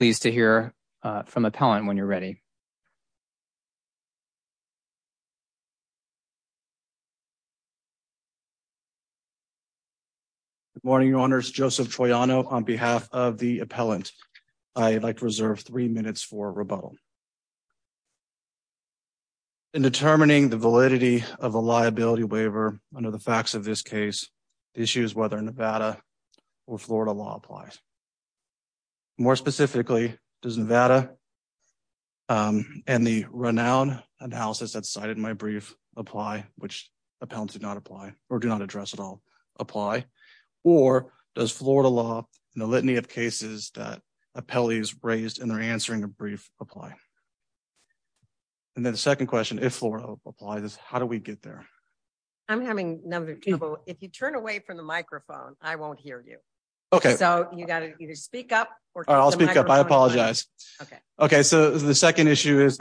Pleased to hear from appellant when you're ready. Good morning, Your Honors. Joseph Troiano on behalf of the appellant. I'd like to reserve three minutes for rebuttal. In determining the validity of a liability waiver under the facts of this case, the issue is whether Nevada or Florida law applies. More specifically, does Nevada and the renowned analysis that's cited in my brief apply, which appellants did not apply or do not address at all, apply, or does Florida law and the litany of cases that appellees raised in their answering a brief apply? And then the second question, if Florida law applies, how do we get there? I'm having a number of people. If you turn away from the microphone, I won't hear you. Okay, so you got to either speak up or I'll speak up. I apologize. Okay, so the second issue is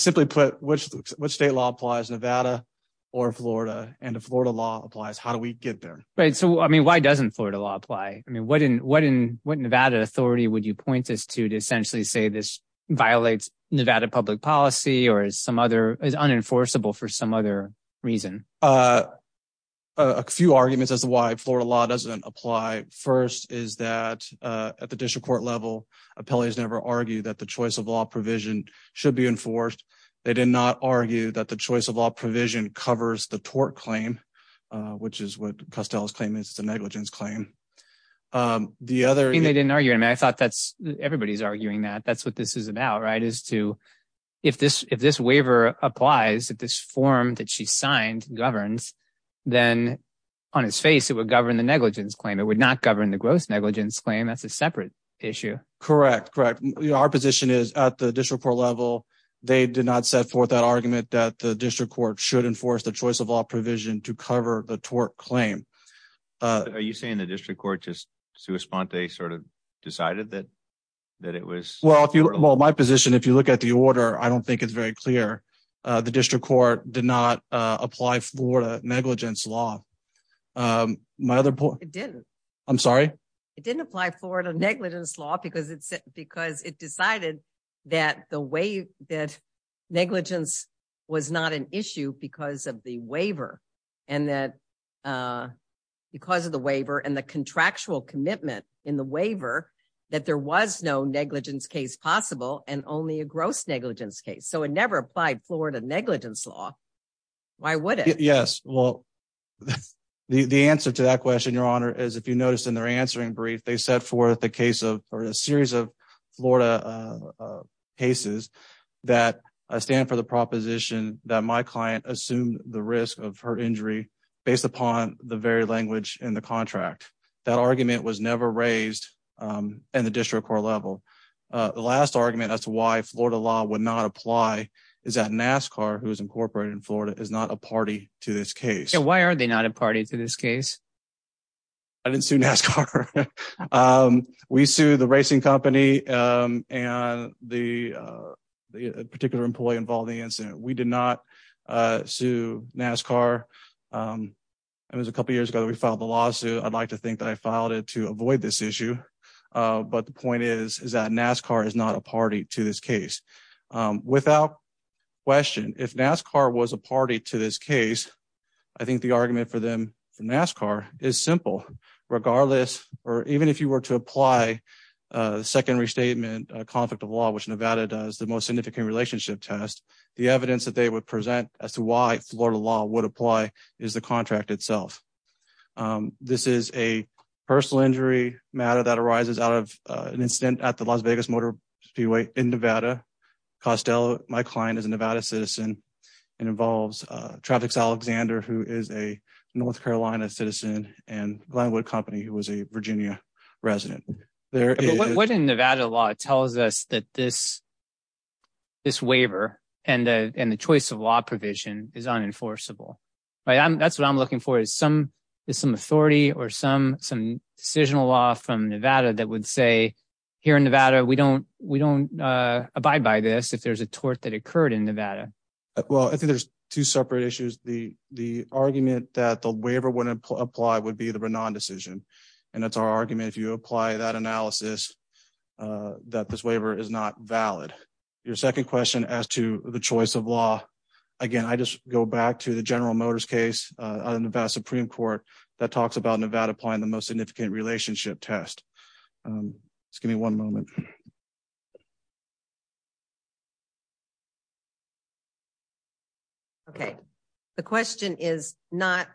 simply put, which state law applies Nevada or Florida and the Florida law applies. How do we get there? So, I mean, why doesn't Florida law apply? What Nevada authority would you point this to to essentially say this violates Nevada public policy or is unenforceable for some other reason? A few arguments as to why Florida law doesn't apply. First is that at the district court level, appellees never argue that the choice of law provision should be enforced. They did not argue that the choice of law provision covers the tort claim, which is what Costello's claim is the negligence claim. The other thing they didn't argue, and I thought that's everybody's arguing that that's what this is about, right? Is to if this if this waiver applies at this form that she signed governs, then on his face, it would govern the negligence claim. It would not govern the gross negligence claim. That's a separate issue. Correct, correct. Our position is at the district court level. They did not set forth that argument that the district court should enforce the choice of law provision to cover the tort claim. Are you saying the district court just to respond, they sort of decided that that it was. Well, if you want my position, if you look at the order, I don't think it's very clear. The district court did not apply for the negligence law. My other point, I'm sorry, it didn't apply for the negligence law because it's because it decided that the way that negligence was not an issue because of the waiver. And that because of the waiver and the contractual commitment in the waiver that there was no negligence case possible and only a gross negligence case. So it never applied Florida negligence law. Why would it? Yes. Well, the answer to that question, Your Honor, is if you notice in their answering brief, they set forth the case of a series of Florida cases that stand for the proposition that my client assumed the risk of her injury based upon the very language in the contract. That argument was never raised in the district court level. The last argument as to why Florida law would not apply is that NASCAR, who is incorporated in Florida, is not a party to this case. Why are they not a party to this case? I didn't sue NASCAR. We sue the racing company and the particular employee involved in the incident. We did not sue NASCAR. It was a couple years ago that we filed the lawsuit. I'd like to think that I filed it to avoid this issue. But the point is, is that NASCAR is not a party to this case. Without question, if NASCAR was a party to this case, I think the argument for them for NASCAR is simple. Regardless, or even if you were to apply a secondary statement, a conflict of law, which Nevada does, the most significant relationship test, the evidence that they would present as to why Florida law would apply is the contract itself. This is a personal injury matter that arises out of an incident at the Las Vegas Motor Speedway in Nevada. Costello, my client, is a Nevada citizen. It involves Traffic Alexander, who is a North Carolina citizen, and Glenwood Company, who is a Virginia resident. What in Nevada law tells us that this waiver and the choice of law provision is unenforceable? That's what I'm looking for, is some authority or some decisional law from Nevada that would say, here in Nevada, we don't abide by this if there's a tort that occurred in Nevada. Well, I think there's two separate issues. The argument that the waiver wouldn't apply would be the Renan decision. And that's our argument. If you apply that analysis, that this waiver is not valid. Your second question as to the choice of law. Again, I just go back to the General Motors case, Nevada Supreme Court, that talks about Nevada applying the most significant relationship test. Just give me one moment. Okay. The question is not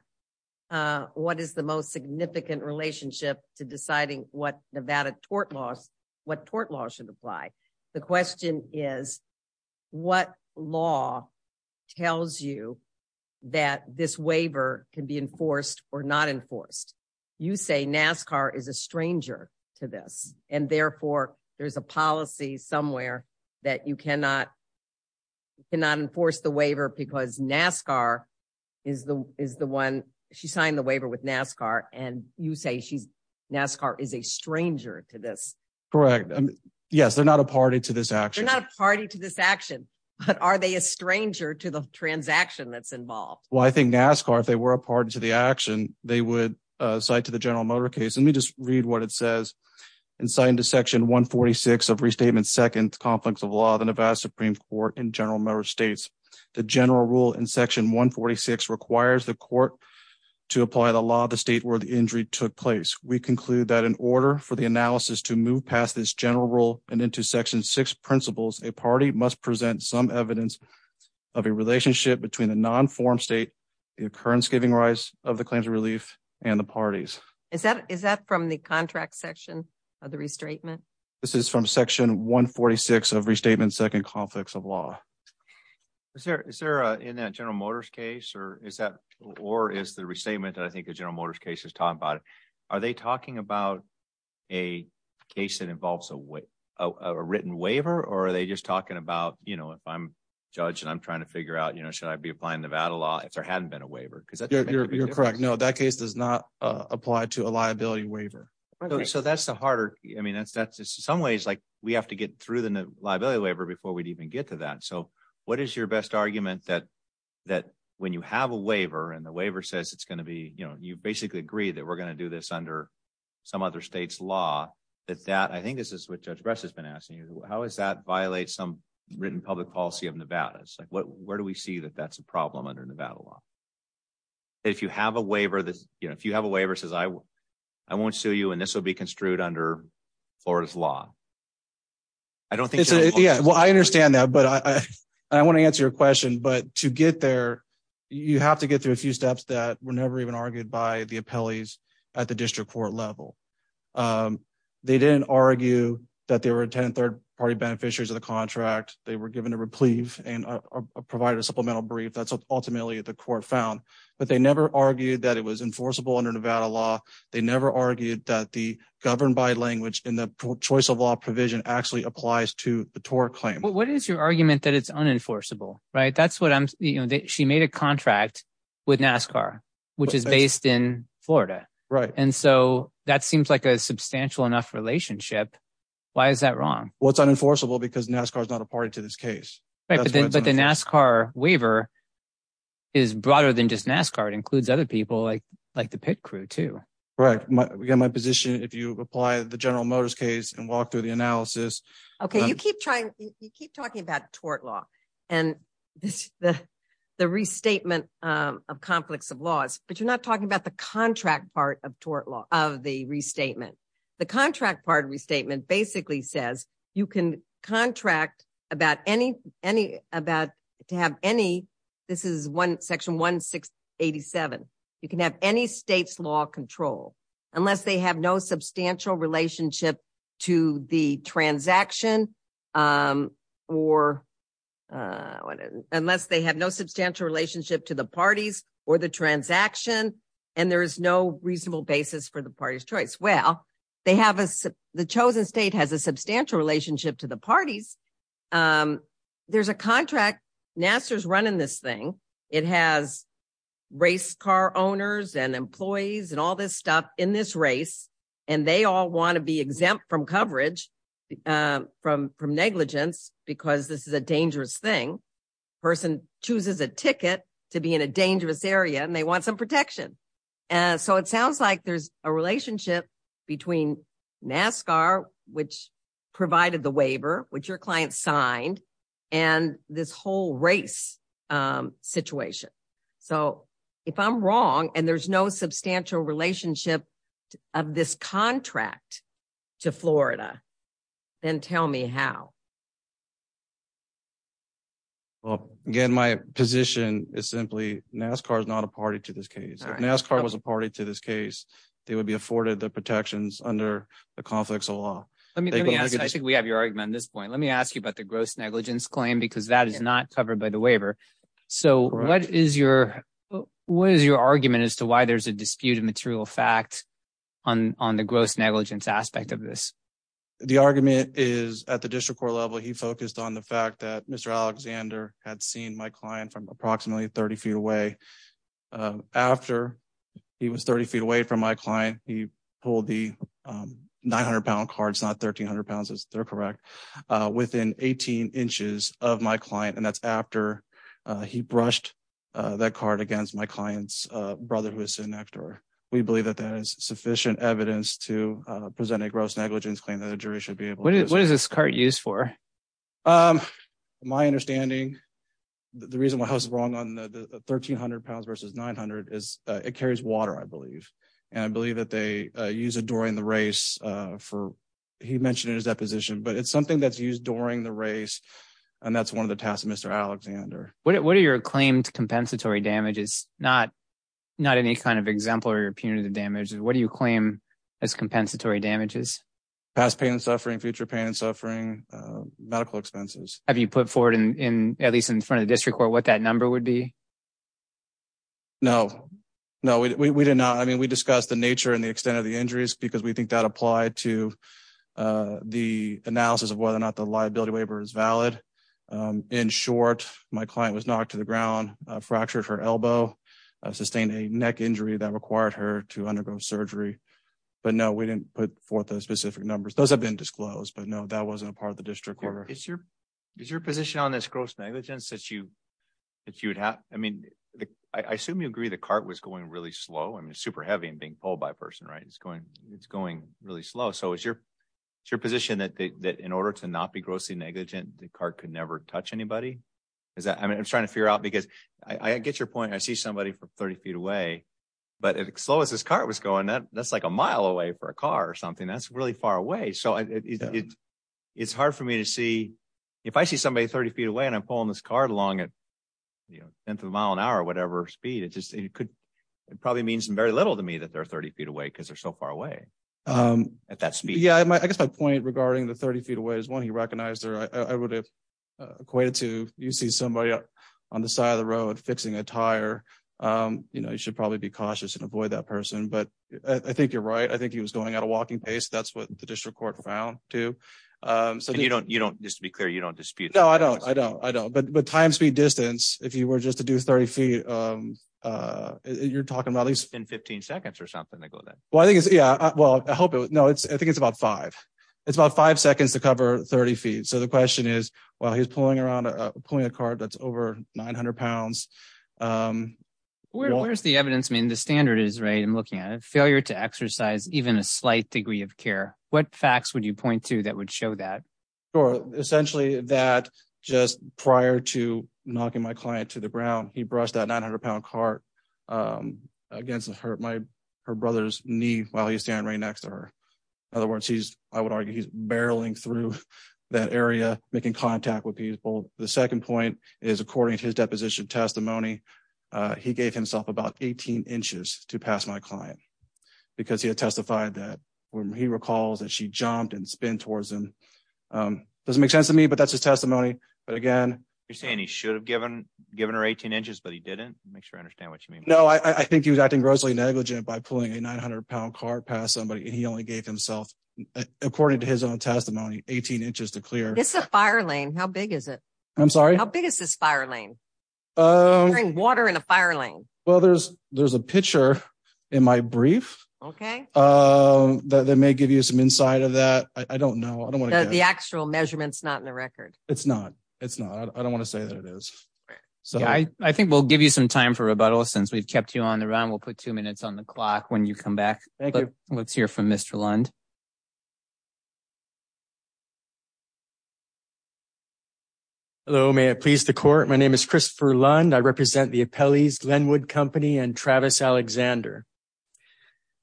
what is the most significant relationship to deciding what Nevada tort laws should apply. The question is, what law tells you that this waiver can be enforced or not enforced? You say NASCAR is a stranger to this. And therefore, there's a policy somewhere that you cannot enforce the waiver because NASCAR is the one. She signed the waiver with NASCAR. And you say NASCAR is a stranger to this. Correct. Yes, they're not a party to this action. They're not a party to this action. But are they a stranger to the transaction that's involved? Well, I think NASCAR, if they were a party to the action, they would cite to the General Motors case. Let me just read what it says. And cite into Section 146 of Restatement Second Conflicts of Law of the Nevada Supreme Court and General Motors States. The general rule in Section 146 requires the court to apply the law of the state where the injury took place. We conclude that in order for the analysis to move past this general rule and into Section 6 principles, a party must present some evidence of a relationship between the non-formed state, the occurrence giving rise of the claims of relief, and the parties. Is that from the contract section of the restatement? This is from Section 146 of Restatement Second Conflicts of Law. Is there in that General Motors case, or is the restatement that I think the General Motors case is talking about, are they talking about a case that involves a written waiver? Or are they just talking about, you know, if I'm a judge and I'm trying to figure out, you know, should I be applying Nevada law if there hadn't been a waiver? You're correct. No, that case does not apply to a liability waiver. So that's the harder, I mean, that's that's some ways like we have to get through the liability waiver before we'd even get to that. So what is your best argument that that when you have a waiver and the waiver says it's going to be, you know, you basically agree that we're going to do this under some other state's law that that I think this is what Judge Bress has been asking you. How is that violate some written public policy of Nevada? It's like, where do we see that that's a problem under Nevada law? If you have a waiver that if you have a waiver says I will, I won't sue you and this will be construed under Florida's law. I don't think so. Yeah, well, I understand that. But I want to answer your question. But to get there, you have to get through a few steps that were never even argued by the appellees at the district court level. They didn't argue that there were 10 third party beneficiaries of the contract. They were given a reprieve and provided a supplemental brief. That's ultimately what the court found. But they never argued that it was enforceable under Nevada law. They never argued that the governed by language in the choice of law provision actually applies to the tort claim. What is your argument that it's unenforceable? Right. That's what I'm she made a contract with NASCAR, which is based in Florida. Right. And so that seems like a substantial enough relationship. Why is that wrong? Well, it's unenforceable because NASCAR is not a party to this case. But the NASCAR waiver is broader than just NASCAR. It includes other people like like the pit crew, too. Right. My position, if you apply the General Motors case and walk through the analysis. OK, you keep trying. You keep talking about tort law and the restatement of conflicts of laws. But you're not talking about the contract part of tort law of the restatement. The contract part restatement basically says you can contract about any any about to have any. This is one section one six eighty seven. You can have any state's law control unless they have no substantial relationship to the transaction or unless they have no substantial relationship to the parties or the transaction. And there is no reasonable basis for the party's choice. Well, they have the chosen state has a substantial relationship to the parties. There's a contract. NASA is running this thing. It has race car owners and employees and all this stuff in this race. And they all want to be exempt from coverage from from negligence because this is a dangerous thing. Person chooses a ticket to be in a dangerous area and they want some protection. And so it sounds like there's a relationship between NASCAR, which provided the waiver, which your client signed and this whole race situation. So if I'm wrong and there's no substantial relationship of this contract to Florida, then tell me how. Well, again, my position is simply NASCAR is not a party to this case. NASCAR was a party to this case. They would be afforded the protections under the conflicts of law. I think we have your argument at this point. Let me ask you about the gross negligence claim, because that is not covered by the waiver. So what is your what is your argument as to why there's a disputed material fact on on the gross negligence aspect of this? The argument is at the district court level, he focused on the fact that Mr. Alexander had seen my client from approximately 30 feet away after he was 30 feet away from my client. He pulled the nine hundred pound cards, not thirteen hundred pounds. They're correct. Within 18 inches of my client. And that's after he brushed that card against my client's brother, who is an actor. We believe that that is sufficient evidence to present a gross negligence claim that a jury should be able to. What is this card used for? My understanding. The reason why I was wrong on the thirteen hundred pounds versus nine hundred is it carries water, I believe. And I believe that they use it during the race for he mentioned in his deposition. But it's something that's used during the race. And that's one of the tasks of Mr. Alexander. What are your claimed compensatory damages? Not not any kind of example or punitive damages. What do you claim as compensatory damages, past pain and suffering, future pain and suffering, medical expenses? Have you put forward in at least in front of district court what that number would be? No, no, we did not. I mean, we discussed the nature and the extent of the injuries, because we think that applied to the analysis of whether or not the liability waiver is valid. In short, my client was knocked to the ground, fractured her elbow, sustained a neck injury that required her to undergo surgery. But no, we didn't put forth those specific numbers. Those have been disclosed. But no, that wasn't a part of the district court. Is your is your position on this gross negligence that you that you would have? I mean, I assume you agree the cart was going really slow and super heavy and being pulled by a person. Right. It's going it's going really slow. So is your your position that that in order to not be grossly negligent, the car could never touch anybody? Is that I mean, I'm trying to figure out because I get your point. I see somebody from 30 feet away, but as slow as this car was going, that that's like a mile away for a car or something that's really far away. So it's hard for me to see if I see somebody 30 feet away and I'm pulling this car along at the mile an hour or whatever speed it just could. It probably means very little to me that they're 30 feet away because they're so far away at that speed. Yeah, I guess my point regarding the 30 feet away is one he recognized there. I would have equated to you see somebody on the side of the road fixing a tire. You know, you should probably be cautious and avoid that person. But I think you're right. I think he was going at a walking pace. That's what the district court found, too. So you don't you don't just to be clear, you don't dispute. No, I don't. I don't. I don't. But the time speed distance, if you were just to do 30 feet, you're talking about least in 15 seconds or something. Well, I think it's yeah. Well, I hope it was. No, it's I think it's about five. It's about five seconds to cover 30 feet. So the question is, well, he's pulling around pulling a car that's over 900 pounds. Where's the evidence? I mean, the standard is right. I'm looking at a failure to exercise even a slight degree of care. What facts would you point to that would show that? Or essentially that just prior to knocking my client to the ground, he brushed out 900 pound cart against her. My her brother's knee while he's standing right next to her. In other words, he's I would argue he's barreling through that area, making contact with people. The second point is, according to his deposition testimony, he gave himself about 18 inches to pass my client because he had testified that when he recalls that she jumped and spin towards him. Doesn't make sense to me, but that's his testimony. But again, you're saying he should have given given her 18 inches, but he didn't make sure I understand what you mean. No, I think he was acting grossly negligent by pulling a 900 pound car past somebody. He only gave himself, according to his own testimony, 18 inches to clear. It's a fire lane. How big is it? I'm sorry. How big is this fire lane? Water in a fire lane. Well, there's there's a picture in my brief. OK, that may give you some insight of that. I don't know. I don't want the actual measurements, not in the record. It's not. It's not. I don't want to say that it is. So I think we'll give you some time for rebuttal since we've kept you on the run. We'll put two minutes on the clock when you come back. Let's hear from Mr. Lund. Hello, may it please the court. My name is Christopher Lund. I represent the appellees Glenwood Company and Travis Alexander.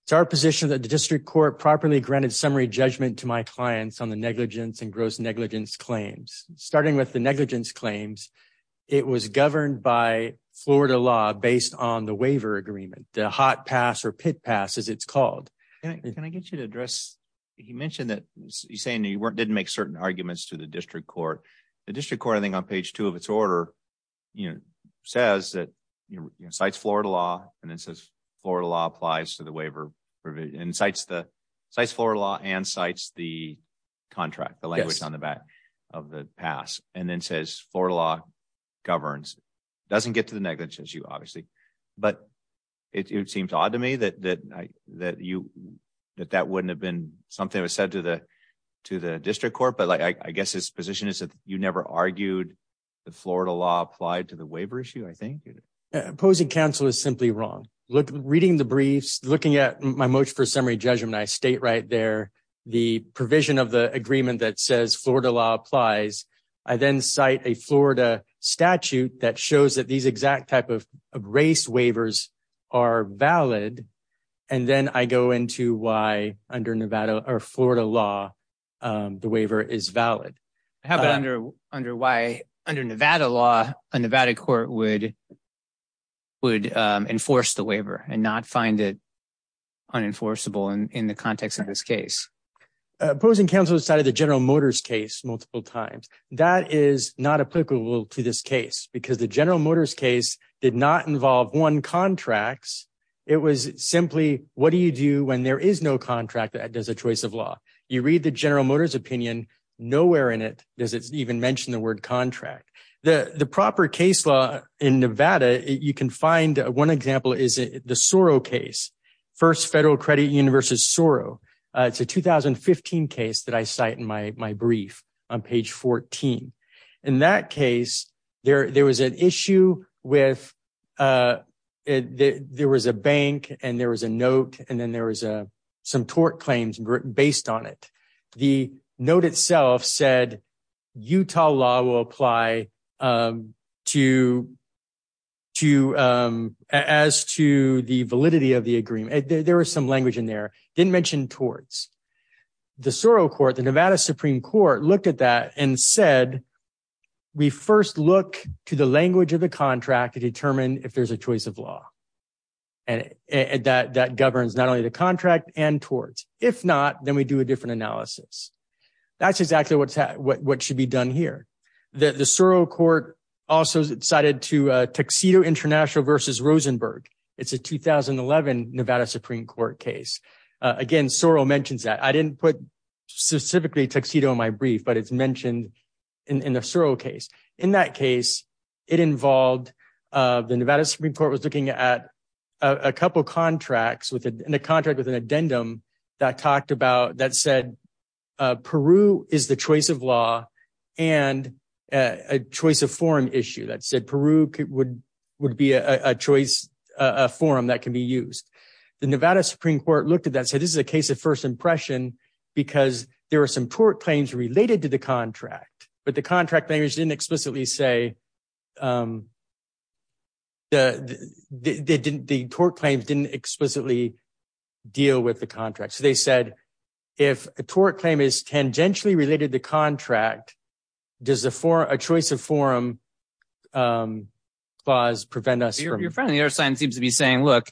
It's our position that the district court properly granted summary judgment to my clients on the negligence and gross negligence claims, starting with the negligence claims. It was governed by Florida law based on the waiver agreement, the hot pass or pit pass, as it's called. Can I get you to address? He mentioned that he's saying he didn't make certain arguments to the district court. The district court, I think, on page two of its order, you know, says that, you know, cites Florida law and then says Florida law applies to the waiver and cites the Florida law and cites the contract. The language on the back of the pass and then says Florida law governs doesn't get to the negligence issue, obviously. But it seems odd to me that that you that that wouldn't have been something that was said to the to the district court. But I guess his position is that you never argued the Florida law applied to the waiver issue. I think opposing counsel is simply wrong. Look, reading the briefs, looking at my motion for summary judgment, I state right there the provision of the agreement that says Florida law applies. I then cite a Florida statute that shows that these exact type of race waivers are valid. And then I go into why under Nevada or Florida law, the waiver is valid. I have it under under why under Nevada law, a Nevada court would. Would enforce the waiver and not find it unenforceable in the context of this case, opposing counsel decided the General Motors case multiple times. That is not applicable to this case because the General Motors case did not involve one contracts. It was simply what do you do when there is no contract that does a choice of law? You read the General Motors opinion. Nowhere in it does it even mention the word contract. The proper case law in Nevada, you can find one example is the Soro case. First Federal Credit Union versus Soro. It's a 2015 case that I cite in my my brief on page 14. In that case, there there was an issue with it. There was a bank and there was a note and then there was a some tort claims based on it. The note itself said Utah law will apply to. To as to the validity of the agreement, there was some language in there didn't mention towards. The Soro court, the Nevada Supreme Court looked at that and said. We first look to the language of the contract to determine if there's a choice of law. And that that governs not only the contract and towards, if not, then we do a different analysis. That's exactly what's what should be done here. The Soro court also cited to Tuxedo International versus Rosenberg. It's a 2011 Nevada Supreme Court case. Again, Soro mentions that. I didn't put specifically Tuxedo in my brief, but it's mentioned in the Soro case. In that case, it involved the Nevada Supreme Court was looking at a couple of contracts with a contract with an addendum that talked about that said. Peru is the choice of law and a choice of forum issue that said Peru would would be a choice forum that can be used. The Nevada Supreme Court looked at that, said this is a case of first impression because there are some tort claims related to the contract. But the contract language didn't explicitly say. The didn't the tort claims didn't explicitly deal with the contract. So they said if a tort claim is tangentially related to contract, does the for a choice of forum clause prevent us from your friend? Seems to be saying, look,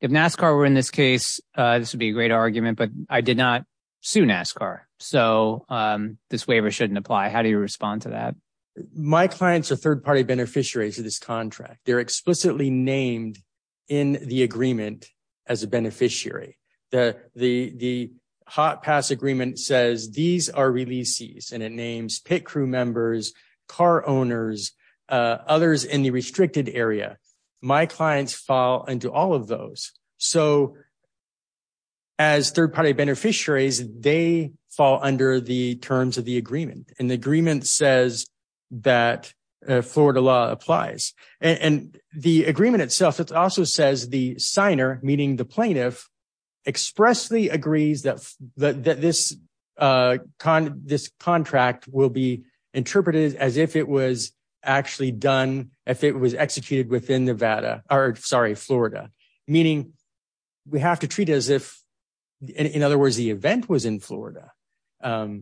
if NASCAR were in this case, this would be a great argument. But I did not sue NASCAR. So this waiver shouldn't apply. How do you respond to that? My clients are third party beneficiaries of this contract. They're explicitly named in the agreement as a beneficiary. The the the hot pass agreement says these are releases and it names pit crew members, car owners, others in the restricted area. My clients fall into all of those. So. As third party beneficiaries, they fall under the terms of the agreement and the agreement says that Florida law applies and the agreement itself. It also says the signer, meaning the plaintiff, expressly agrees that this kind of this contract will be interpreted as if it was actually done, if it was executed within Nevada or sorry, Florida, meaning we have to treat as if, in other words, the event was in Florida. And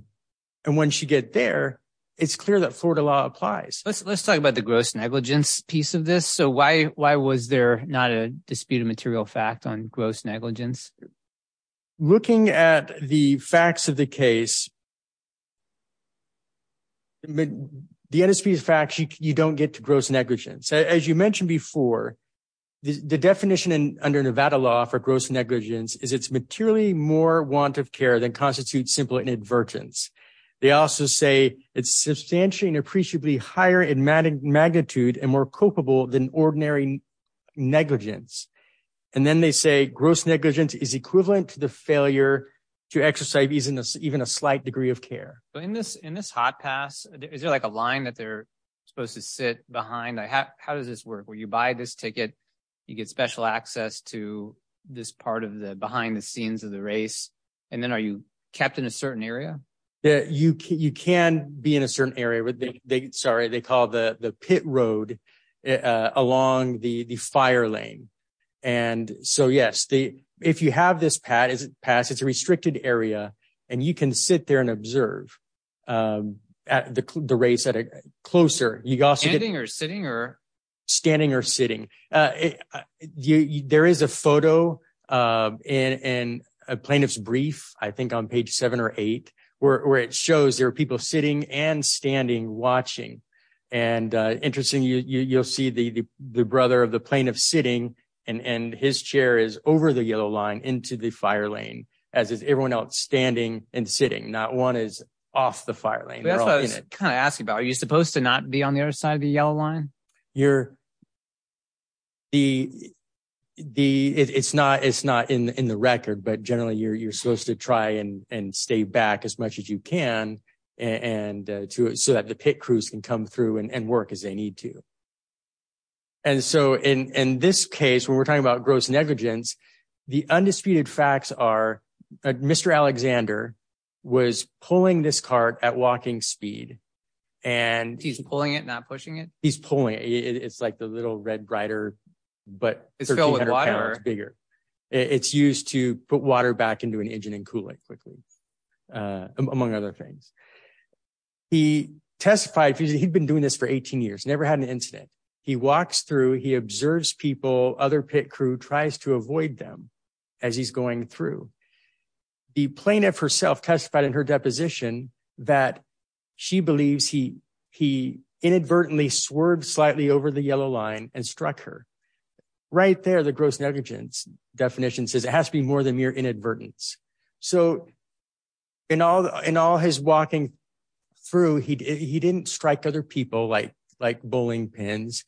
when she get there, it's clear that Florida law applies. Let's let's talk about the gross negligence piece of this. So why why was there not a disputed material fact on gross negligence? Looking at the facts of the case. The NSP is fact you don't get to gross negligence, as you mentioned before, the definition under Nevada law for gross negligence is it's materially more want of care than constitutes simple inadvertence. They also say it's substantially and appreciably higher in magnitude and more culpable than ordinary negligence. And then they say gross negligence is equivalent to the failure to exercise even a slight degree of care in this in this hot pass. Is there like a line that they're supposed to sit behind? How does this work where you buy this ticket? You get special access to this part of the behind the scenes of the race. And then are you kept in a certain area that you can be in a certain area? There was a big sorry, they call the pit road along the fire lane. And so, yes, the if you have this pad is pass, it's a restricted area and you can sit there and observe at the race at a closer. You got standing or sitting or standing or sitting. There is a photo in a plaintiff's brief, I think, on page seven or eight, where it shows there are people sitting and standing, watching. And interesting, you'll see the the brother of the plaintiff sitting and his chair is over the yellow line into the fire lane, as is everyone else standing and sitting. Not one is off the fire lane. That's what I was kind of asking about. Are you supposed to not be on the other side of the yellow line? You're. The the it's not it's not in the record, but generally you're you're supposed to try and stay back as much as you can and so that the pit crews can come through and work as they need to. And so in this case, when we're talking about gross negligence, the undisputed facts are Mr. Alexander was pulling this cart at walking speed and he's pulling it, not pushing it. He's pulling it. It's like the little red rider, but it's bigger. It's used to put water back into an engine and cool it quickly, among other things. He testified he'd been doing this for 18 years, never had an incident. He walks through. He observes people. Other pit crew tries to avoid them as he's going through. The plaintiff herself testified in her deposition that she believes he he inadvertently swerved slightly over the yellow line and struck her right there. So, in all in all his walking through, he he didn't strike other people like like bowling pins.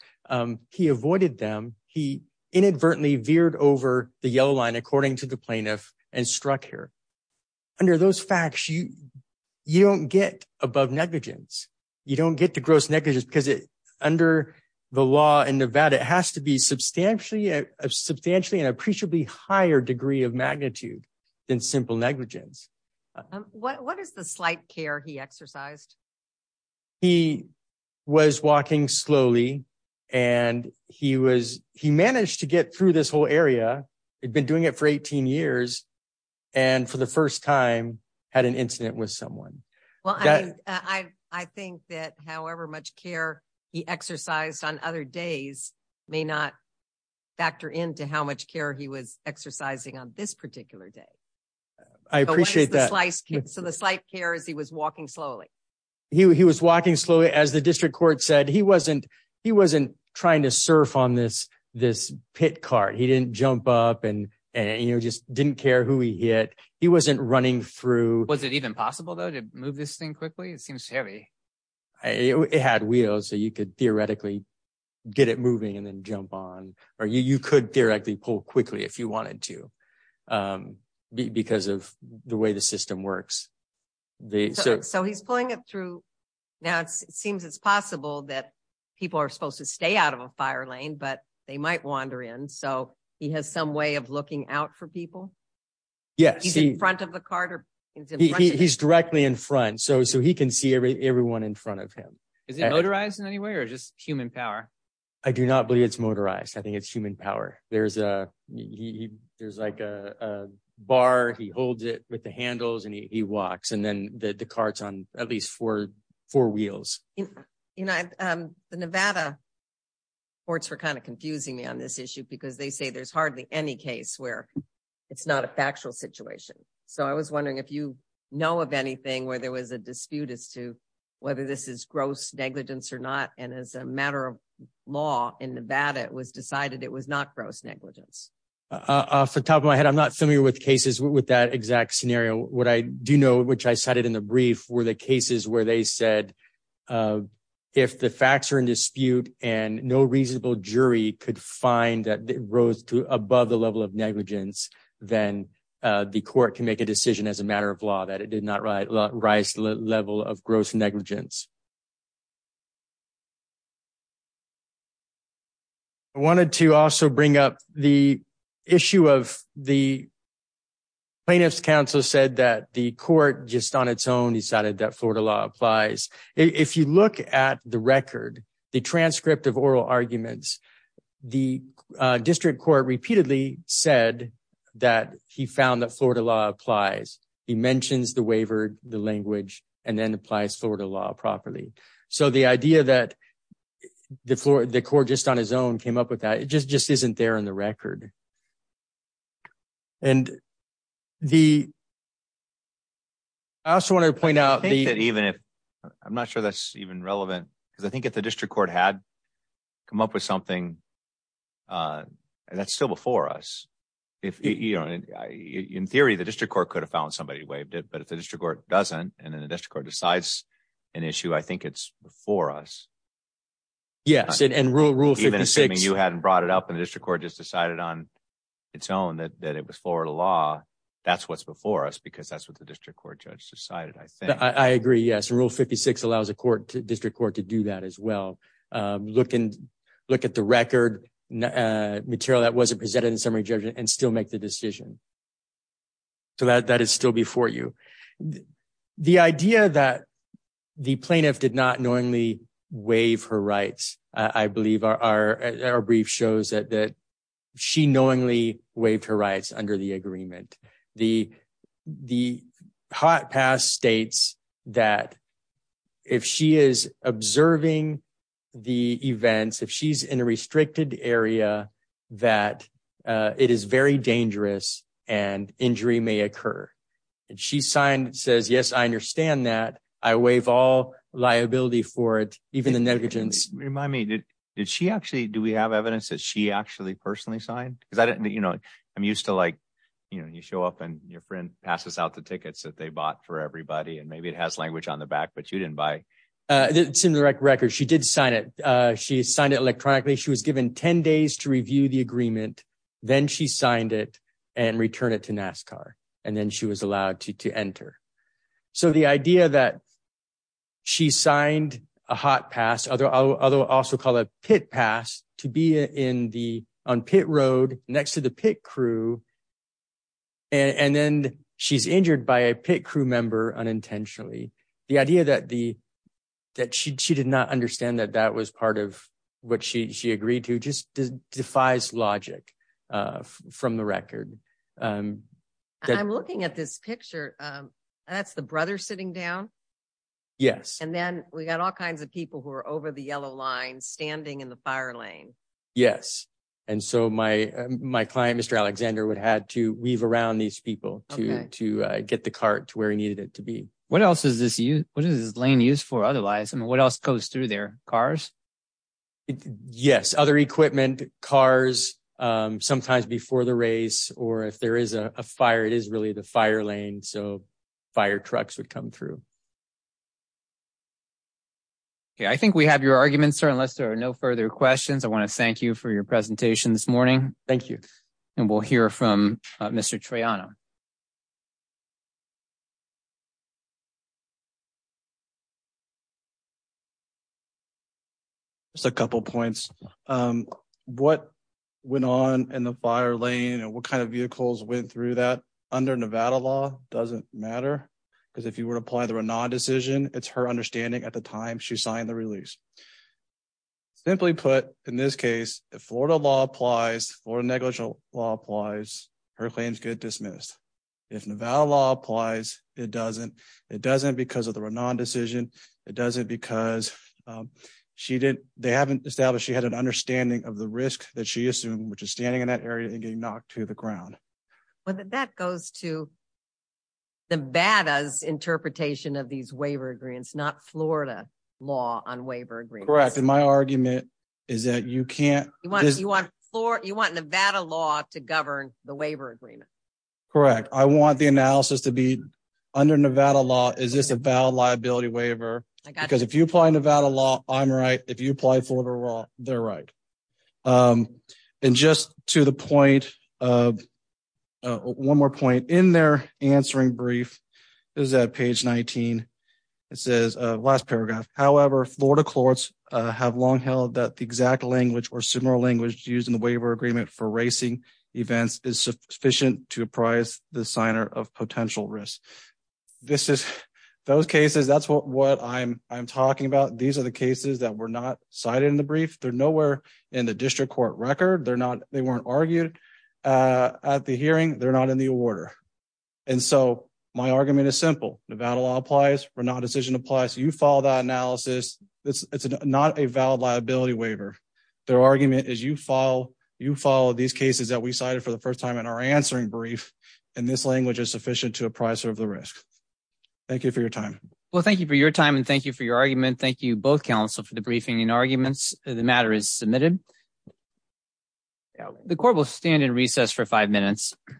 He avoided them. He inadvertently veered over the yellow line, according to the plaintiff and struck her under those facts you you don't get above negligence. You don't get to gross negligence because under the law in Nevada, it has to be substantially substantially and appreciably higher degree of magnitude than simple negligence. What is the slight care he exercised? He was walking slowly and he was he managed to get through this whole area. He'd been doing it for 18 years and for the first time had an incident with someone. Well, I think that however much care he exercised on other days may not factor into how much care he was exercising on this particular day. I appreciate that. So the slight care is he was walking slowly. He was walking slowly. As the district court said, he wasn't he wasn't trying to surf on this this pit cart. He didn't jump up and and, you know, just didn't care who he hit. He wasn't running through. Was it even possible, though, to move this thing quickly? It seems heavy. It had wheels so you could theoretically get it moving and then jump on or you could directly pull quickly if you wanted to, because of the way the system works. So he's pulling it through. Now it seems it's possible that people are supposed to stay out of a fire lane, but they might wander in. So he has some way of looking out for people. Is he in front of the cart or? He's directly in front. So so he can see everyone in front of him. Is it motorized in any way or just human power? I do not believe it's motorized. I think it's human power. There's a there's like a bar. He holds it with the handles and he walks and then the carts on at least for four wheels. You know, the Nevada courts were kind of confusing me on this issue because they say there's hardly any case where it's not a factual situation. So I was wondering if you know of anything where there was a dispute as to whether this is gross negligence or not. And as a matter of law in Nevada, it was decided it was not gross negligence. Off the top of my head, I'm not familiar with cases with that exact scenario. What I do know, which I cited in the brief, were the cases where they said if the facts are in dispute and no reasonable jury could find that rose to above the level of negligence, then the court can make a decision as a matter of law that it did not rise to the level of gross negligence. I wanted to also bring up the issue of the plaintiff's counsel said that the court just on its own decided that Florida law applies. If you look at the record, the transcript of oral arguments, the district court repeatedly said that he found that Florida law applies. He mentions the waiver, the language, and then applies Florida law properly. So the idea that the court just on his own came up with that, it just isn't there in the record. And I also want to point out that even if I'm not sure that's even relevant, because I think if the district court had come up with something, that's still before us. In theory, the district court could have found somebody who waived it, but if the district court doesn't and then the district court decides an issue, I think it's before us. Yes, and rule 56. Even assuming you hadn't brought it up and the district court just decided on its own that it was Florida law, that's what's before us because that's what the district court judge decided, I think. I agree, yes. And rule 56 allows the district court to do that as well. Look at the record material that wasn't presented in summary judgment and still make the decision. So that is still before you. The idea that the plaintiff did not knowingly waive her rights, I believe our brief shows that she knowingly waived her rights under the agreement. The hot pass states that if she is observing the events, if she's in a restricted area, that it is very dangerous and injury may occur. And she signed says, yes, I understand that. I waive all liability for it, even the negligence. Remind me, did she actually do we have evidence that she actually personally signed because I didn't, you know, I'm used to like, you know, you show up and your friend passes out the tickets that they bought for everybody and maybe it has language on the back, but you didn't buy. She did sign it. She signed it electronically. She was given 10 days to review the agreement. Then she signed it and return it to NASCAR, and then she was allowed to enter. So the idea that she signed a hot pass other other also called a pit pass to be in the pit road next to the pit crew. And then she's injured by a pit crew member unintentionally. The idea that the that she did not understand that that was part of what she agreed to just defies logic from the record. I'm looking at this picture. That's the brother sitting down. Yes. And then we got all kinds of people who are over the yellow line standing in the fire lane. Yes. And so my my client, Mr. Alexander, would had to weave around these people to to get the cart to where he needed it to be. What else is this? What is this lane used for? Otherwise, I mean, what else goes through their cars? Yes. Other equipment, cars, sometimes before the race or if there is a fire, it is really the fire lane. So fire trucks would come through. I think we have your argument, sir, unless there are no further questions, I want to thank you for your presentation this morning. Thank you. And we'll hear from Mr. Trayana. Just a couple of points. What went on in the fire lane and what kind of vehicles went through that under Nevada law doesn't matter because if you were to apply the decision, it's her understanding at the time she signed the release. Simply put, in this case, if Florida law applies or negligible law applies, her claims get dismissed. If Nevada law applies, it doesn't. It doesn't because of the decision. It doesn't because she did. They haven't established she had an understanding of the risk that she assumed, which is standing in that area and getting knocked to the ground. Well, that goes to Nevada's interpretation of these waiver agreements, not Florida law on waiver agreements. Correct. And my argument is that you want Nevada law to govern the waiver agreement. Correct. I want the analysis to be under Nevada law. Is this a valid liability waiver? Because if you apply Nevada law, I'm right. If you apply Florida law, they're right. And just to the point of one more point in their answering brief is that page 19. It says last paragraph. However, Florida courts have long held that the exact language or similar language used in the waiver agreement for racing events is sufficient to apprise the signer of potential risk. Those cases, that's what I'm talking about. These are the cases that were not cited in the brief. They're nowhere in the district court record. They weren't argued at the hearing. They're not in the order. And so my argument is simple. Nevada law applies. We're not decision applies. You follow that analysis. It's not a valid liability waiver. Their argument is you follow these cases that we cited for the first time in our answering brief. And this language is sufficient to apprise of the risk. Thank you for your time. Well, thank you for your time and thank you for your argument. Thank you both counsel for the briefing and arguments. The matter is submitted. The court will stand in recess for five minutes. Thank you.